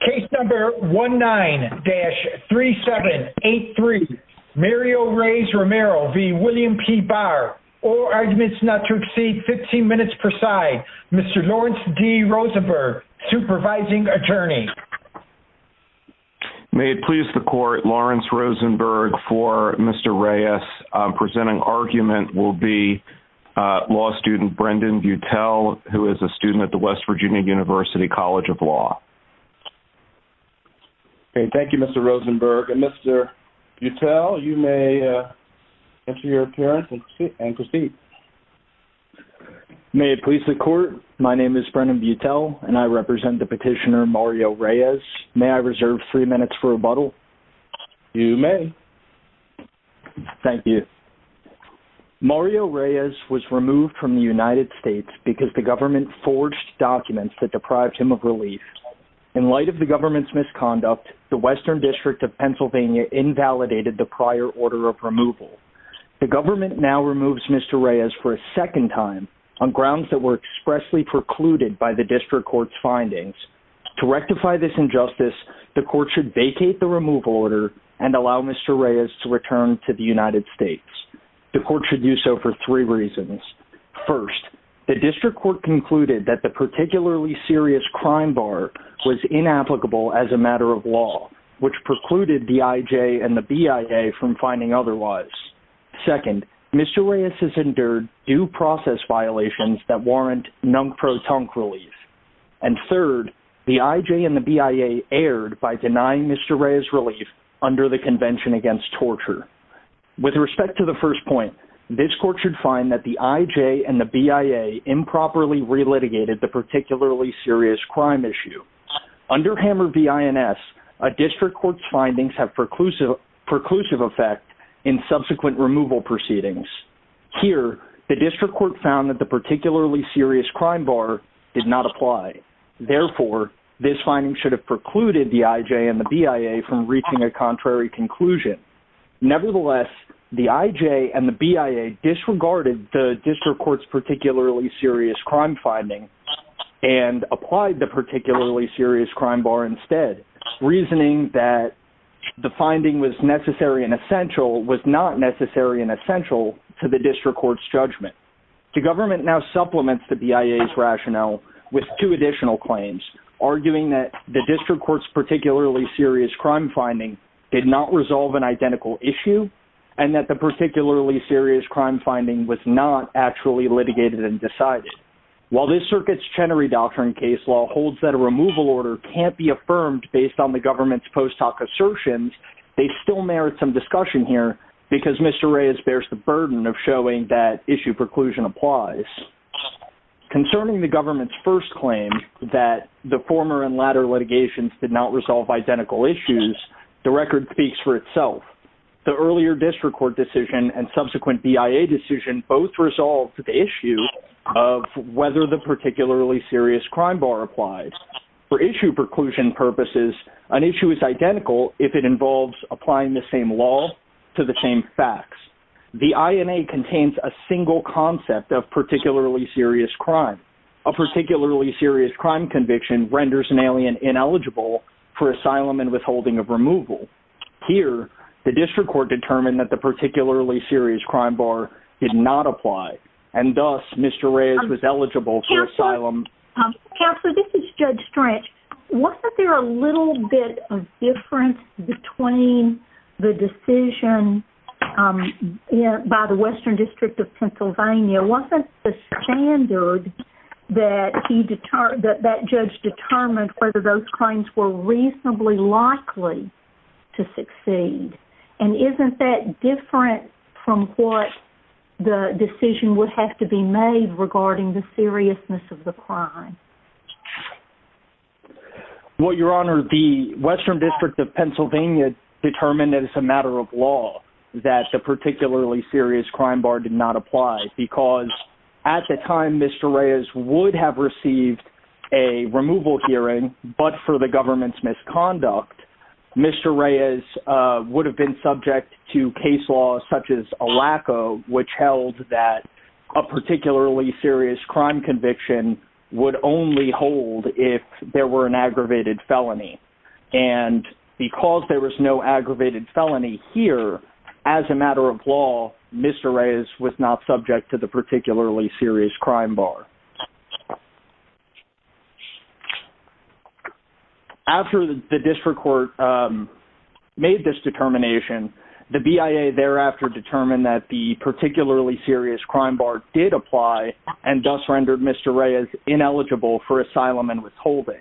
Case number 19-3783. Mario Reyes-Romero v. William P. Barr. All arguments not to exceed 15 minutes per side. Mr. Lawrence D. Rosenberg, supervising attorney. May it please the court, Lawrence Rosenberg for Mr. Reyes presenting argument will be law student Brendan Butel, who is a student at the West Virginia University College of Law. Okay, thank you Mr. Rosenberg. And Mr. Butel, you may enter your appearance and proceed. May it please the court, my name is Brendan Butel and I represent the petitioner Mario Reyes. May I reserve three minutes for rebuttal? You may. Thank you. Mario Reyes was removed from the United States because the government forged documents that deprived him of relief. In light of the government's misconduct, the Western District of Pennsylvania invalidated the prior order of removal. The government now removes Mr. Reyes for a second time on grounds that were expressly precluded by the district court's findings. To rectify this injustice, the court should vacate the removal order and allow Mr. Reyes to return to the United States. The court should do so for three reasons. First, the district court concluded that the serious crime bar was inapplicable as a matter of law, which precluded the IJ and the BIA from finding otherwise. Second, Mr. Reyes has endured due process violations that warrant nunk-pro-tunk relief. And third, the IJ and the BIA erred by denying Mr. Reyes relief under the Convention Against Torture. With respect to the first point, this court should that the IJ and the BIA improperly relitigated the particularly serious crime issue. Under Hammer v. INS, a district court's findings have preclusive effect in subsequent removal proceedings. Here, the district court found that the particularly serious crime bar did not apply. Therefore, this finding should have precluded the IJ and the BIA from reaching a contrary conclusion. Nevertheless, the IJ and the BIA disregarded the district court's particularly serious crime finding and applied the particularly serious crime bar instead, reasoning that the finding was necessary and essential was not necessary and essential to the district court's judgment. The government now supplements the BIA's rationale with two additional claims, arguing that the district court's particularly serious crime finding did not resolve an identical issue and that the particularly serious crime finding was not actually litigated and decided. While this circuit's Chenery Doctrine case law holds that a removal order can't be affirmed based on the government's post hoc assertions, they still merit some discussion here because Mr. Reyes bears the burden of showing that issue preclusion applies. Concerning the government's first claim that the former and latter litigations did not resolve identical issues, the record speaks for itself. The earlier district court decision and subsequent BIA decision both resolved the issue of whether the particularly serious crime bar applied. For issue preclusion purposes, an issue is identical if it involves applying the same law to the same facts. The INA contains a single concept of particularly serious crime. A particularly serious crime conviction renders an alien ineligible for asylum and withholding of removal. Here, the district court determined that the particularly serious crime bar did not apply and thus Mr. Reyes was eligible for asylum. Counselor, this is Judge Strange. Wasn't there a little bit of difference between the decision by the Western District of Pennsylvania? Wasn't the standard that that judge determined whether those claims were reasonably likely to succeed? And isn't that different from what the decision would have to be made regarding the seriousness of the crime? Well, Your Honor, the Western District of Pennsylvania determined as a matter of law that the particularly serious crime bar did not apply because at the time Mr. Reyes would have received a removal hearing, but for the government's misconduct, Mr. Reyes would have been subject to case law such as a LACO, which held that a particularly serious crime conviction would only hold if there were an aggravated felony. And because there was no aggravated felony here, as a matter of law, Mr. Reyes was not subject to the particularly serious crime bar. After the district court made this determination, the BIA thereafter determined that the particularly serious crime bar did apply and thus rendered Mr. Reyes ineligible for asylum and withholding.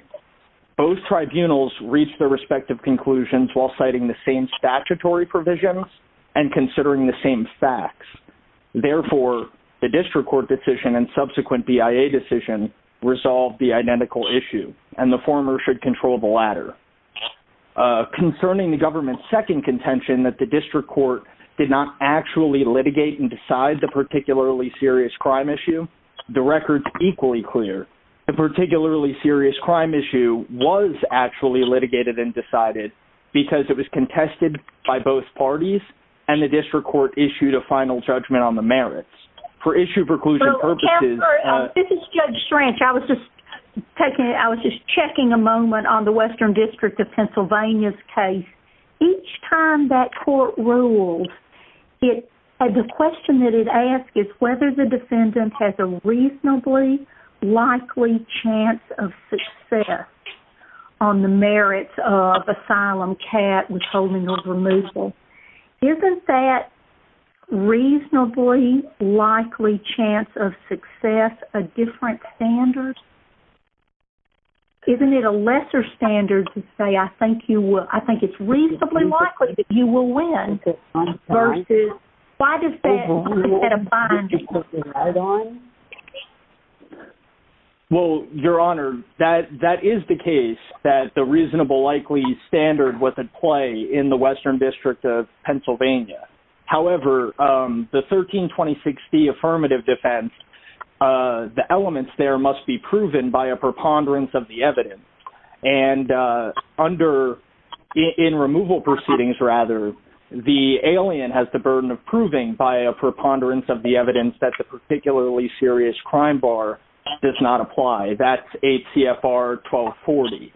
Both tribunals reached their respective conclusions while citing the same statutory provisions and considering the same facts. Therefore, the district court decision and subsequent BIA decision resolved the identical issue, and the former should control the latter. Concerning the government's second contention that the district court did not actually litigate and decide the particularly serious crime issue, the record's equally clear. The particularly serious crime issue was actually litigated and decided because it was contested by both parties, and the district court issued a final judgment on the merits. For issue preclusion purposes- This is Judge Schranch. I was just checking a moment on the Western District of Pennsylvania's case. Each time that court ruled, the question that it asked is whether the defendant has a reasonably likely chance of success on the merits of asylum cat withholding or removal. Isn't that reasonably likely chance of success a different standard? Isn't it a lesser standard to say, I think it's reasonably likely that you will win, versus- why does that set a binding criterion? Well, Your Honor, that is the case, that the reasonable likely standard was at play in the Western District of Pennsylvania. However, the 132060 affirmative defense, the elements there must be proven by a preponderance of the evidence. In removal proceedings, rather, the alien has the burden of proving by a preponderance of the evidence that the particularly serious crime bar does not apply. That's 8 CFR 1240.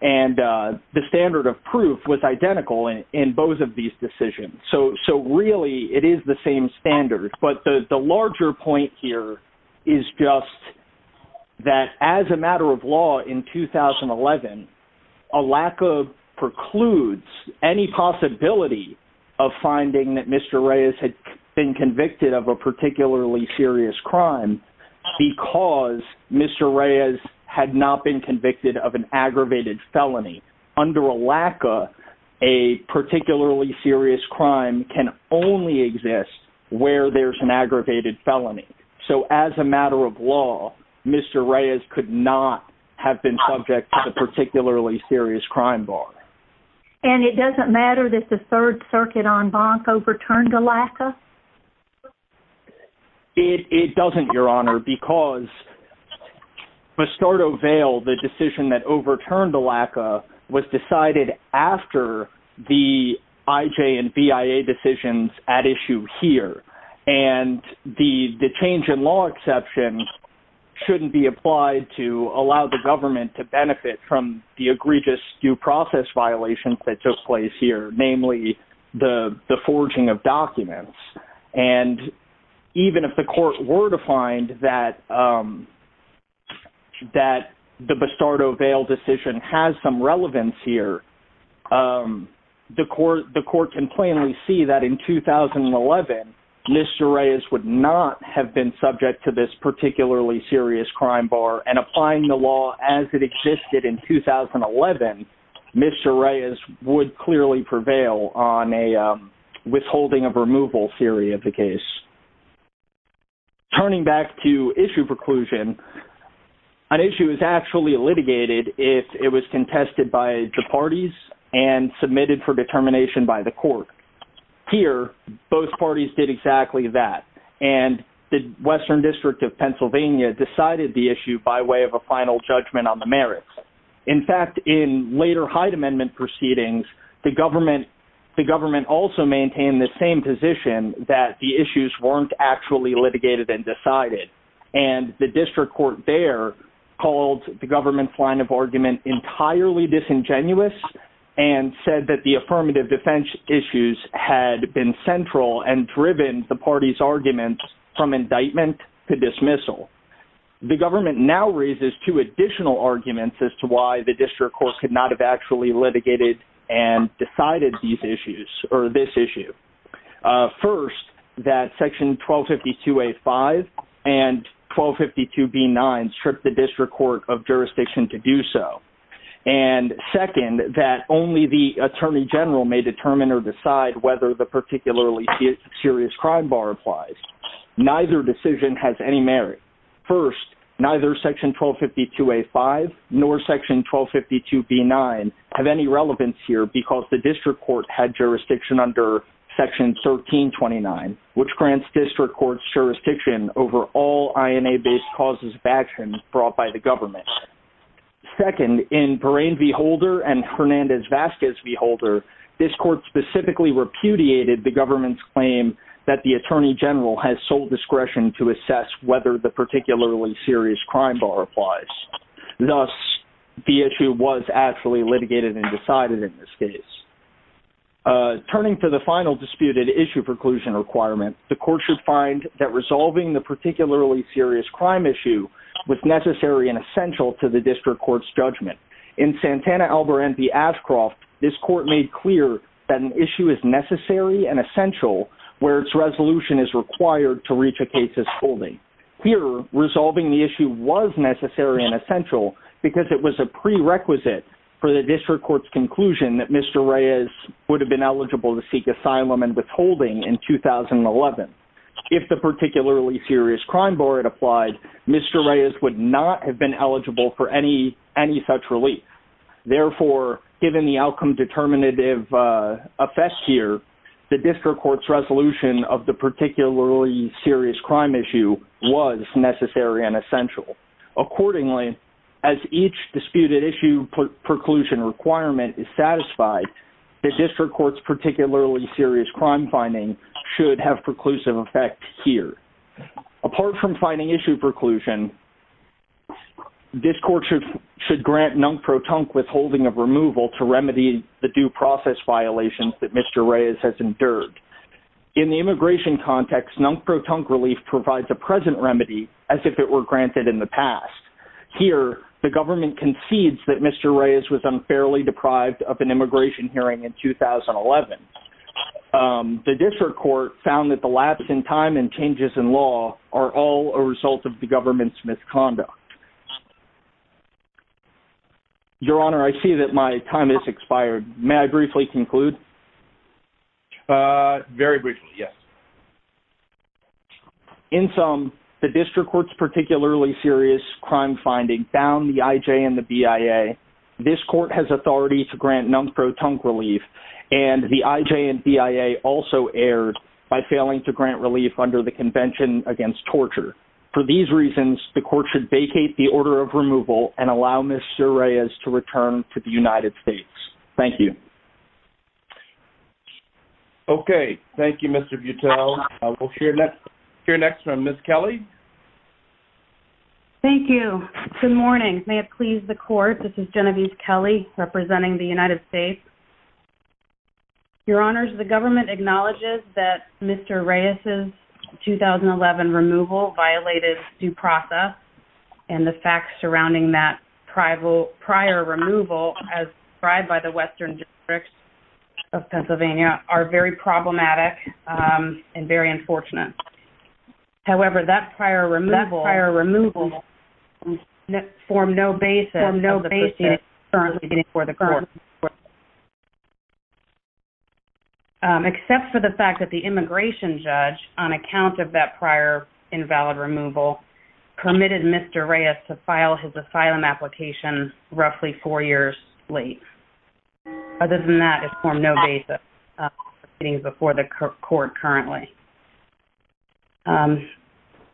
The standard of proof was identical in both of these decisions. Really, it is the same standard. The larger point here is just that as a matter of law in 2011, a lack of precludes any possibility of finding that Mr. Reyes had been convicted of a particularly serious crime because Mr. Reyes had not been convicted of an aggravated felony. Under a LACA, a particularly serious crime can only exist where there's an aggravated felony. So as a matter of law, Mr. Reyes could not have been subject to the particularly serious crime bar. And it doesn't matter that the Third Circuit on Bonk overturned a LACA? It doesn't, Your Honor, because Bastardo Vail, the decision that overturned the LACA, was decided after the IJ and BIA decisions at issue here. And the change in law exception shouldn't be applied to allow the government to benefit from the egregious due process violations that took place here, namely, the forging of that the Bastardo Vail decision has some relevance here. The court can plainly see that in 2011, Mr. Reyes would not have been subject to this particularly serious crime bar. And applying the law as it existed in 2011, Mr. Reyes would clearly prevail on a withholding of removal theory of the case. Turning back to issue preclusion, an issue is actually litigated if it was contested by the parties and submitted for determination by the court. Here, both parties did exactly that. And the Western District of Pennsylvania decided the issue by way of a final judgment on the merits. In fact, in later Hyde Amendment proceedings, the government also maintained in the same position that the issues weren't actually litigated and decided. And the district court there called the government's line of argument entirely disingenuous and said that the affirmative defense issues had been central and driven the party's arguments from indictment to dismissal. The government now raises two additional arguments as to why the district court could not have actually litigated and decided these issues, or this issue. First, that section 1252A5 and 1252B9 stripped the district court of jurisdiction to do so. And second, that only the attorney general may determine or decide whether the particularly serious crime bar applies. Neither decision has any merit. First, neither section 1252A5 nor section 1252B9 have any relevance here because the district court had jurisdiction under section 1329, which grants district courts jurisdiction over all INA-based causes of action brought by the government. Second, in Perrine v. Holder and Hernandez-Vasquez v. Holder, this court specifically repudiated the government's claim that the attorney general has sole discretion to assess whether the particularly serious crime bar applies. Thus, the issue was actually litigated and decided in this case. Turning to the final disputed issue preclusion requirement, the court should find that resolving the particularly serious crime issue was necessary and essential to the district court's judgment. In Santana v. Ashcroft, this court made clear that an issue is necessary and essential where its resolution is required to reach a case's holding. Here, resolving the issue was necessary and essential because it was a prerequisite for the district court's conclusion that Mr. Reyes would have been eligible to seek asylum and withholding in 2011. If the particularly serious crime bar had applied, Mr. Reyes would not have been eligible for any such relief. Therefore, given the outcome determinative affest here, the district court's resolution of the particularly serious crime issue was necessary and essential. Accordingly, as each disputed issue preclusion requirement is satisfied, the district court's particularly serious crime finding should have preclusive effect here. Apart from finding issue preclusion, this court should grant Nunk-Pro-Tunk withholding of removal to remedy the due process violations that Mr. Reyes has endured. In the immigration context, Nunk-Pro-Tunk relief provides a present remedy as if it were granted in the past. Here, the government concedes that Mr. Reyes was unfairly deprived of an immigration hearing in 2011. The district court found that the lapse in time and changes in law are all a result of the government's misconduct. Your Honor, I see that my time has expired. May I briefly conclude? Very briefly, yes. In sum, the district court's particularly serious crime finding bound the IJ and the BIA. This court has authority to grant Nunk-Pro-Tunk relief, and the IJ and BIA also erred by failing to grant relief under the Convention Against Torture. For these reasons, the court should base its decision order of removal and allow Mr. Reyes to return to the United States. Thank you. Okay. Thank you, Mr. Buttell. We'll hear next from Ms. Kelly. Thank you. Good morning. May it please the court, this is Genevieve Kelly, representing the United States. Your Honors, the government acknowledges that Mr. Reyes's and the facts surrounding that prior removal, as described by the Western Districts of Pennsylvania, are very problematic and very unfortunate. However, that prior removal formed no basis for the proceedings currently before the court. Except for the fact that the immigration judge, on account of that prior invalid removal, permitted Mr. Reyes to file his asylum application roughly four years late. Other than that, it formed no basis for the proceedings before the court currently.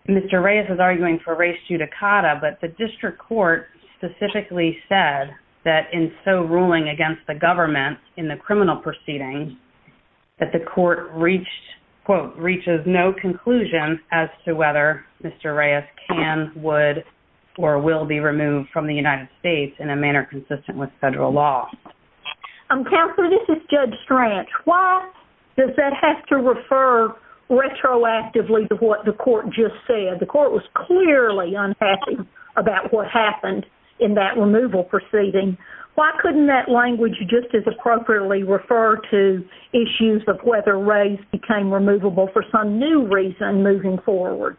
Mr. Reyes is arguing for res judicata, but the district court specifically said that in so ruling against the government in the criminal proceedings that the court reached, quote, Mr. Reyes can, would, or will be removed from the United States in a manner consistent with federal law. Counselor, this is Judge Strach. Why does that have to refer retroactively to what the court just said? The court was clearly unhappy about what happened in that removal proceeding. Why couldn't that language just as appropriately refer to issues of whether Reyes became removable for some new reason moving forward?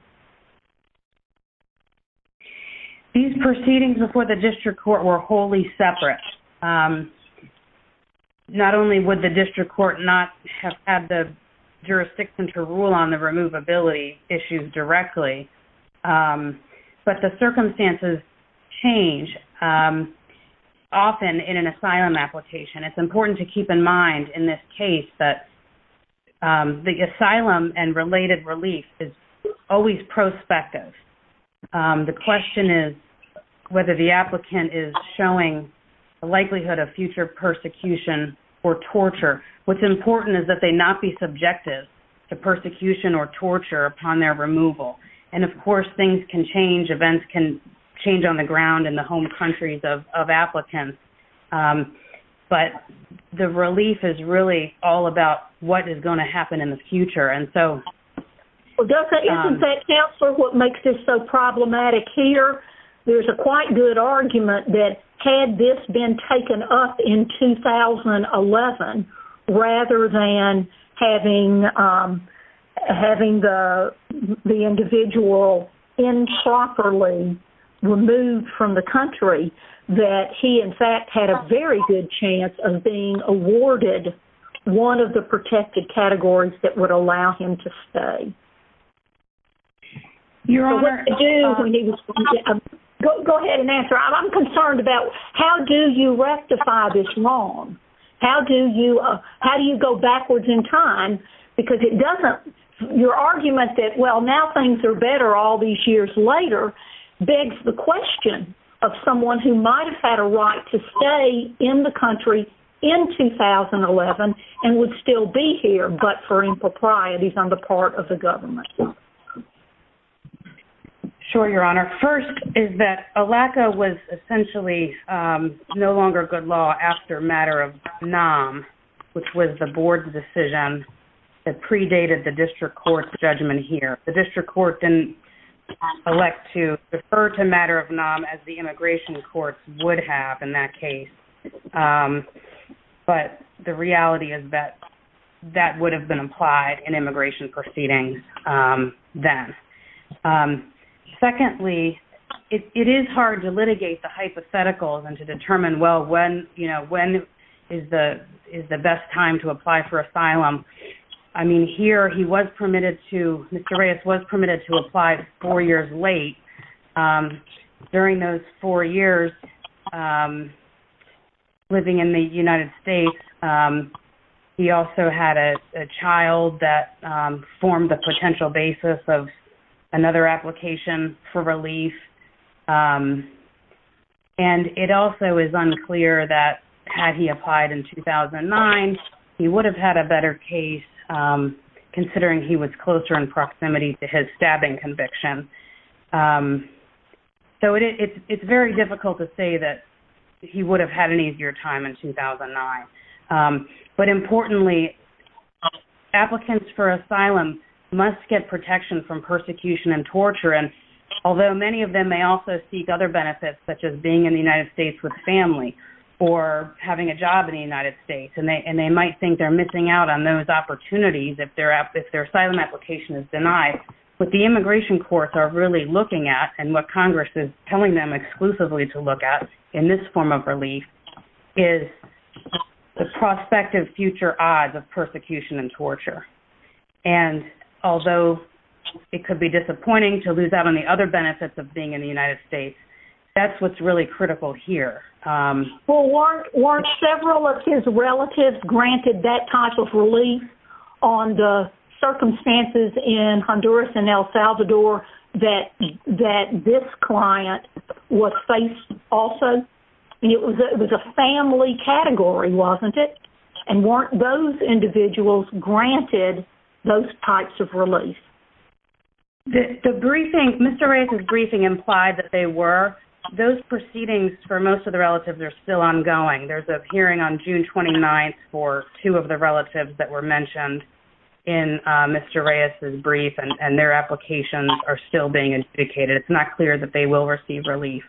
These proceedings before the district court were wholly separate. Not only would the district court not have had the jurisdiction to rule on the removability issues directly, but the circumstances change often in an asylum application. It's important to keep in mind in this case that the asylum and related relief is always prospective. The question is whether the applicant is showing the likelihood of future persecution or torture. What's important is that they not be subjective to persecution or torture upon their removal. Of course, things can change. Events can change on the ground in the home the relief is really all about what is going to happen in the future. Isn't that, Counselor, what makes this so problematic here? There's a quite good argument that had this been taken up in 2011 rather than having the individual improperly removed from the home, the person would have been awarded one of the protected categories that would allow him to stay. Go ahead and answer. I'm concerned about how do you rectify this wrong? How do you go backwards in time? Your argument that, well, now things are better all these years later, begs the question of someone who might have had a right to stay in the country in 2011 and would still be here, but for improprieties on the part of the government. Sure, Your Honor. First is that ALECA was essentially no longer good law after Matter of Nam, which was the board's decision that predated the district court's judgment here. The district court didn't elect to refer to Matter of Nam as the immigration courts would have in that case, but the reality is that that would have been applied in immigration proceedings then. Secondly, it is hard to litigate the hypotheticals and to determine, well, when is the best time to apply four years late? During those four years living in the United States, he also had a child that formed the potential basis of another application for relief, and it also is unclear that had he applied in 2009, he would have had a better case considering he was closer in proximity to his stabbing conviction. So, it's very difficult to say that he would have had an easier time in 2009, but importantly, applicants for asylum must get protection from persecution and torture, and although many of them may also seek other benefits, such as being in the United States with family or having a job in the United States, and they might think they're missing out on those opportunities if their asylum application is denied, what the immigration courts are really looking at and what Congress is telling them exclusively to look at in this form of relief is the prospective future odds of persecution and torture, and although it could be disappointing to lose out on the other benefits of being in the United States, that's what's really critical here. Well, weren't several of his relatives granted that type of relief on the circumstances in Honduras and El Salvador that this client was faced also? It was a family category, wasn't it? And weren't those individuals granted those types of relief? The briefing, Mr. Reyes's briefing implied that they were. Those proceedings for most of the relatives are still ongoing. There's a hearing on June 29th for two of the relatives that were mentioned in Mr. Reyes's brief, and their applications are still being indicated. It's not clear that they will receive relief.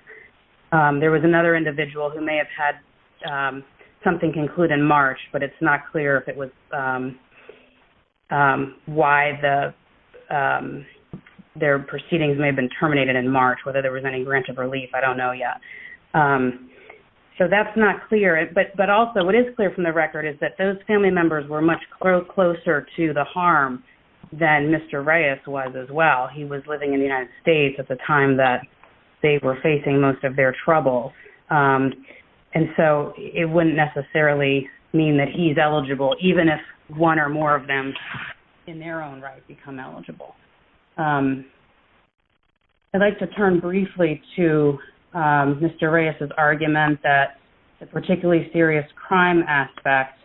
There was another individual who may have had something conclude in March, but it's not clear if it was why their proceedings may have been terminated in March, whether there was a reason. So that's not clear, but also what is clear from the record is that those family members were much closer to the harm than Mr. Reyes was as well. He was living in the United States at the time that they were facing most of their trouble, and so it wouldn't necessarily mean that he's eligible, even if one or more of them in their own right become eligible. I'd like to turn briefly to Mr. Reyes's argument that the particularly serious crime aspect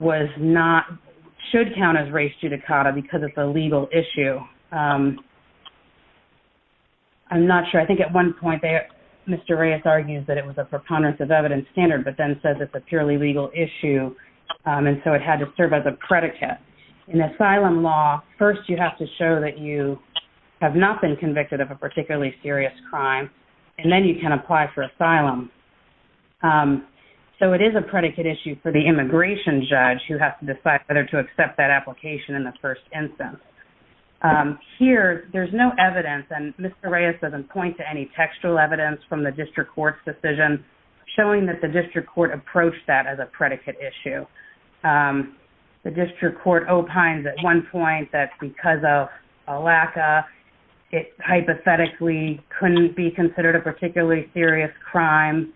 was not, should count as race judicata because it's a legal issue. I'm not sure. I think at one point, Mr. Reyes argues that it was a preponderance of evidence standard, but then says it's a purely legal issue, and so it had to serve as a predicate. In asylum law, first you have to show that you have not been convicted of a particularly serious crime, and then you can apply for asylum. So it is a predicate issue for the immigration judge who has to decide whether to accept that application in the first instance. Here, there's no evidence, and Mr. Reyes doesn't point to any textual evidence from the district court's decision showing that the district court approached that as a predicate issue. The district court opines at one point that because of a lack of, it hypothetically couldn't be considered a particularly serious crime,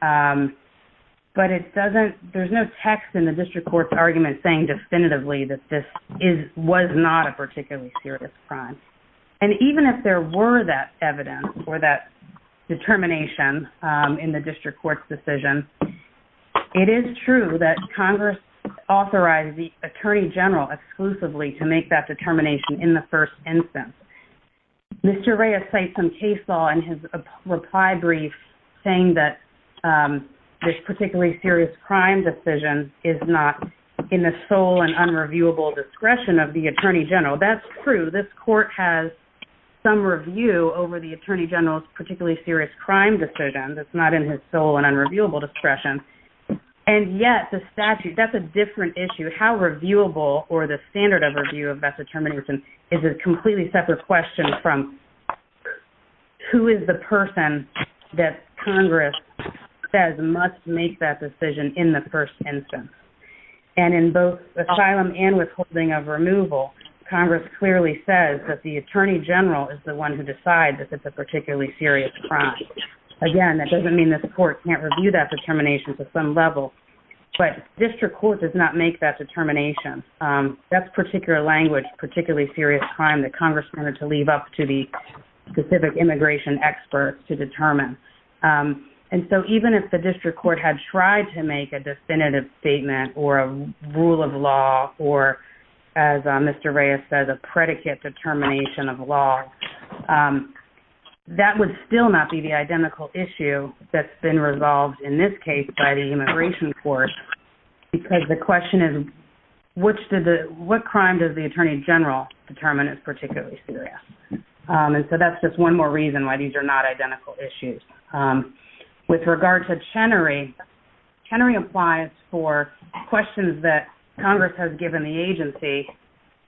but it doesn't, there's no text in the district court's argument saying definitively that this is, was not a particularly serious crime. And even if there were that evidence or that determination in the district court's decision, it is true that Congress authorized the attorney general exclusively to make that determination in the first instance. Mr. Reyes cites some case law in his reply brief saying that this particularly serious crime decision is not in the sole and unreviewable discretion of the attorney general. That's true. This court has some review over the attorney general's particularly serious crime decision that's not in his sole and unreviewable discretion. And yet the statute, that's a different issue. How reviewable or the standard of review of that determination is a completely separate question from who is the person that Congress says must make that decision in the first instance. And in both asylum and withholding of removal, Congress clearly says that the attorney general is the one who decides that this is a particularly serious crime. Again, that doesn't mean that the court can't review that determination to some level, but district court does not make that determination. That's particular language, particularly serious crime that Congress wanted to leave up to the specific immigration experts to determine. And so even if the district court had tried to make a definitive statement or a rule of law, or as Mr. Reyes says, a predicate determination of law, that would still not be the identical issue that's been resolved in this case by the immigration court because the question is, what crime does the attorney general determine is particularly serious? And so that's just one more reason why these are not identical issues. With regard to Chenery, Chenery applies for questions that Congress has given the agency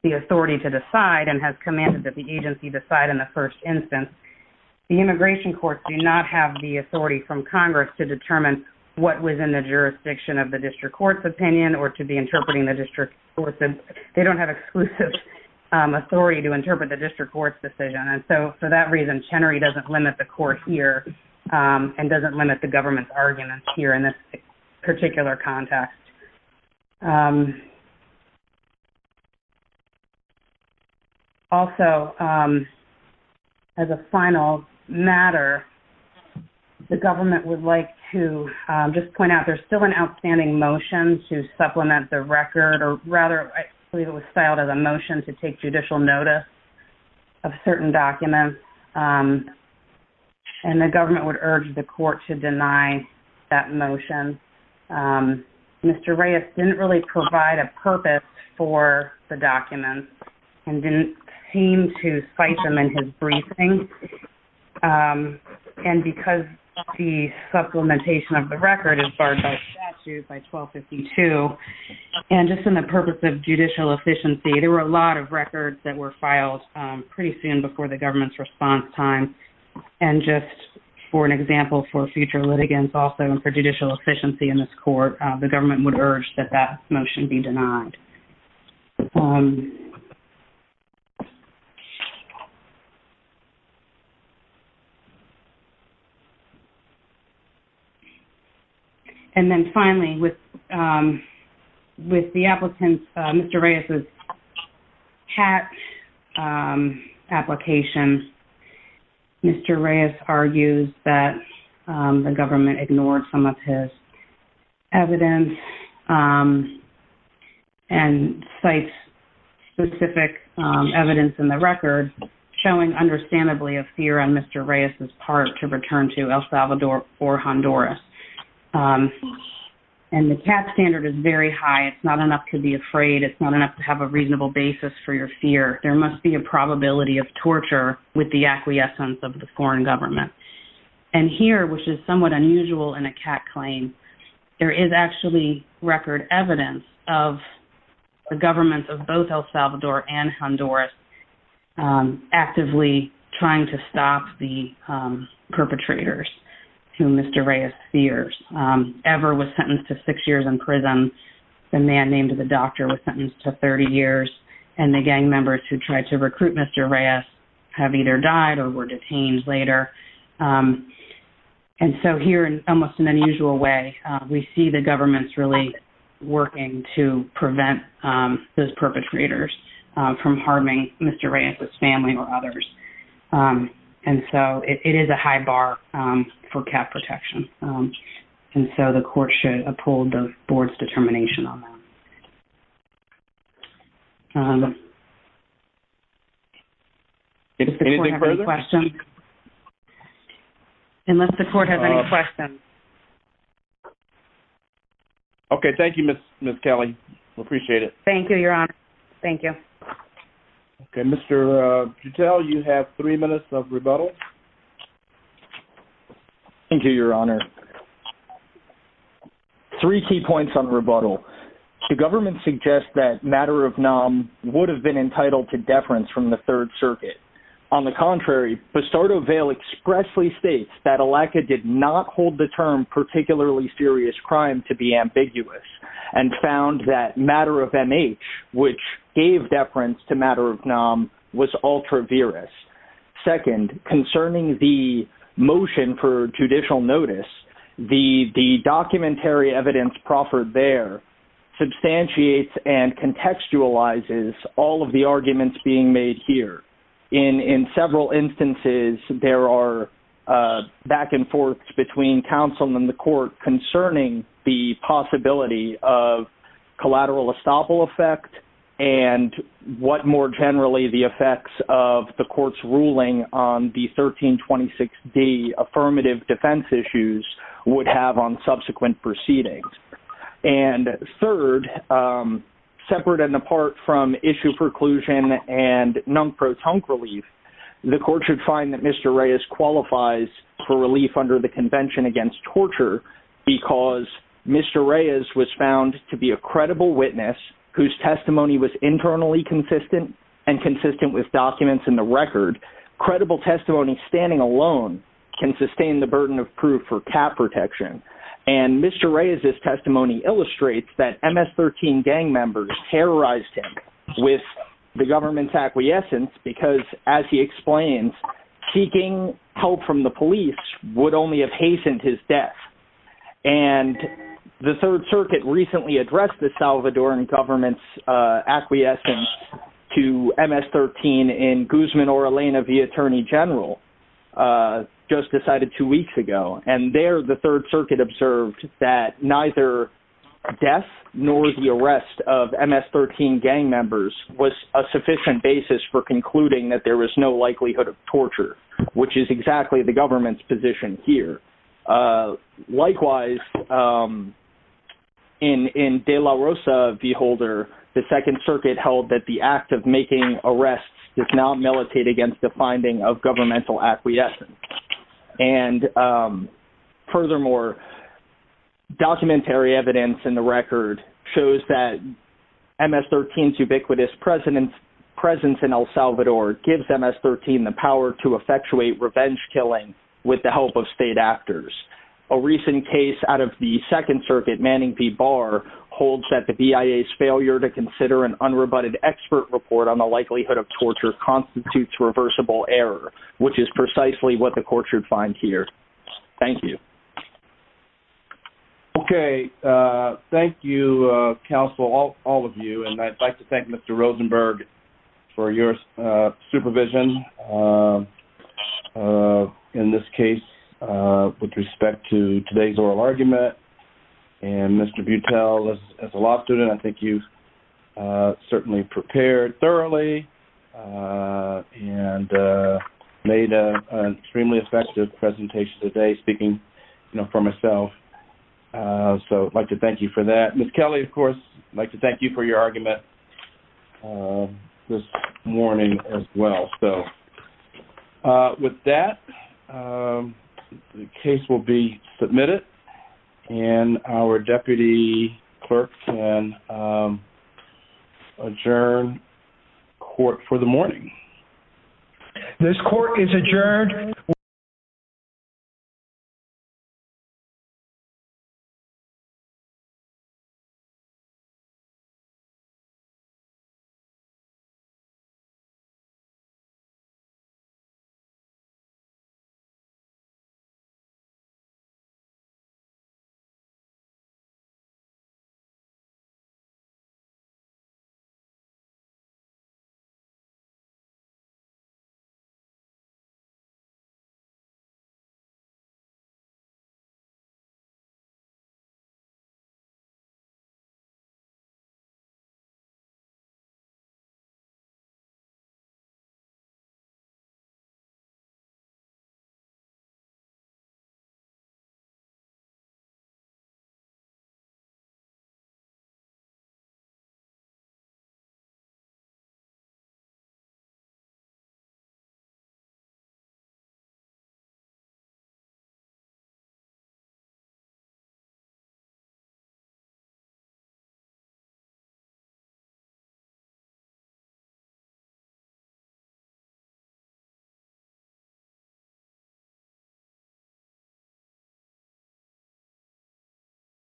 the authority to decide and has commanded that the agency decide in the first instance. The immigration courts do not have the authority from Congress to determine what was in the jurisdiction of the district court's opinion or to be interpreting the district. They don't have exclusive authority to interpret the district court's decision. And so for that reason, Chenery doesn't limit the court here and doesn't limit the agency. Also, as a final matter, the government would like to just point out there's still an outstanding motion to supplement the record, or rather, I believe it was filed as a motion to take judicial notice of certain documents. And the government would urge the court to deny that motion. Mr. Reyes didn't really provide a purpose for the documents and didn't seem to cite them in his briefing. And because the supplementation of the record is barred by statute by 1252, and just in the purpose of judicial efficiency, there were a lot of records that were filed pretty soon before the government's response time. And just for an example for future litigants also and for judicial efficiency in this court, the government would urge that that motion be denied. And then finally, with the applicant, Mr. Reyes' CAT application, Mr. Reyes argues that the government ignored some of his evidence and cites specific evidence in the record showing understandably a fear on Mr. Reyes' part to return to El Salvador or Honduras. And the CAT standard is very high. It's not enough to be afraid. It's not enough to have a reasonable basis for your fear. There must be a probability of torture with the acquiescence of the foreign government. And here, which is somewhat unusual in a CAT claim, there is actually record evidence of the government of both El Salvador and Honduras actively trying to stop the perpetrators whom Mr. Reyes fears. Ever was sentenced to six years in prison, the man named the doctor was sentenced to 30 years, and the gang members who tried to recruit Mr. Reyes have either died or were detained later. And so here, in almost an unusual way, we see the government's really working to prevent those perpetrators from harming Mr. Reyes' family or others. And so it is a high bar for CAT protection. And so the court should uphold the board's determination on that. Unless the court has any questions. Okay. Thank you, Ms. Kelly. We appreciate it. Thank you, Your Honor. Thank you. Okay. Mr. Jutel, you have three minutes of rebuttal. Thank you, Your Honor. Three key points on rebuttal. The government suggests that matter of nom would have been entitled to deference from the Third Circuit. On the contrary, Bastardo Veil expressly states that ALECA did not hold the term particularly serious crime to be ambiguous and found that matter of MH, which gave deference to matter of Second, concerning the motion for judicial notice, the documentary evidence proffered there substantiates and contextualizes all of the arguments being made here. In several instances, there are back and forth between counsel and the court concerning the possibility of collateral effect and what more generally the effects of the court's ruling on the 1326D affirmative defense issues would have on subsequent proceedings. And third, separate and apart from issue preclusion and non-protonc relief, the court should find that Mr. Reyes qualifies for relief whose testimony was internally consistent and consistent with documents in the record. Credible testimony standing alone can sustain the burden of proof for cap protection. And Mr. Reyes's testimony illustrates that MS-13 gang members terrorized him with the government's acquiescence because, as he explains, seeking help from the police would only have hastened his death. And the Third Circuit recently addressed the Salvadoran government's acquiescence to MS-13 in Guzman or Elena v. Attorney General, just decided two weeks ago. And there, the Third Circuit observed that neither death nor the arrest of MS-13 gang members was a sufficient basis for concluding that there was no likelihood of torture, which is exactly the government's position here. Likewise, in De La Rosa v. Holder, the Second Circuit held that the act of making arrests does not militate against the finding of governmental acquiescence. And furthermore, documentary evidence in the record shows that MS-13's ubiquitous presence in El Salvador gives MS-13 the power to effectuate revenge killing with the help of state actors. A recent case out of the Second Circuit, Manning v. Barr, holds that the BIA's failure to consider an unrebutted expert report on the likelihood of torture constitutes reversible error, which is precisely what the court should find here. Thank you. Okay. Thank you, counsel, all of you. And I'd like to thank Mr. Rosenberg for your supervision in this case with respect to today's oral argument. And Mr. Butel, as a law student, I think you certainly prepared thoroughly and made an extremely effective presentation today, speaking, you know, for myself. So I'd like to thank you for that. Ms. Kelly, of course, I'd like to thank you for your argument this morning as well. So with that, the case will be submitted, and our deputy clerk can adjourn court for the morning. This court is adjourned. Thank you. Thank you.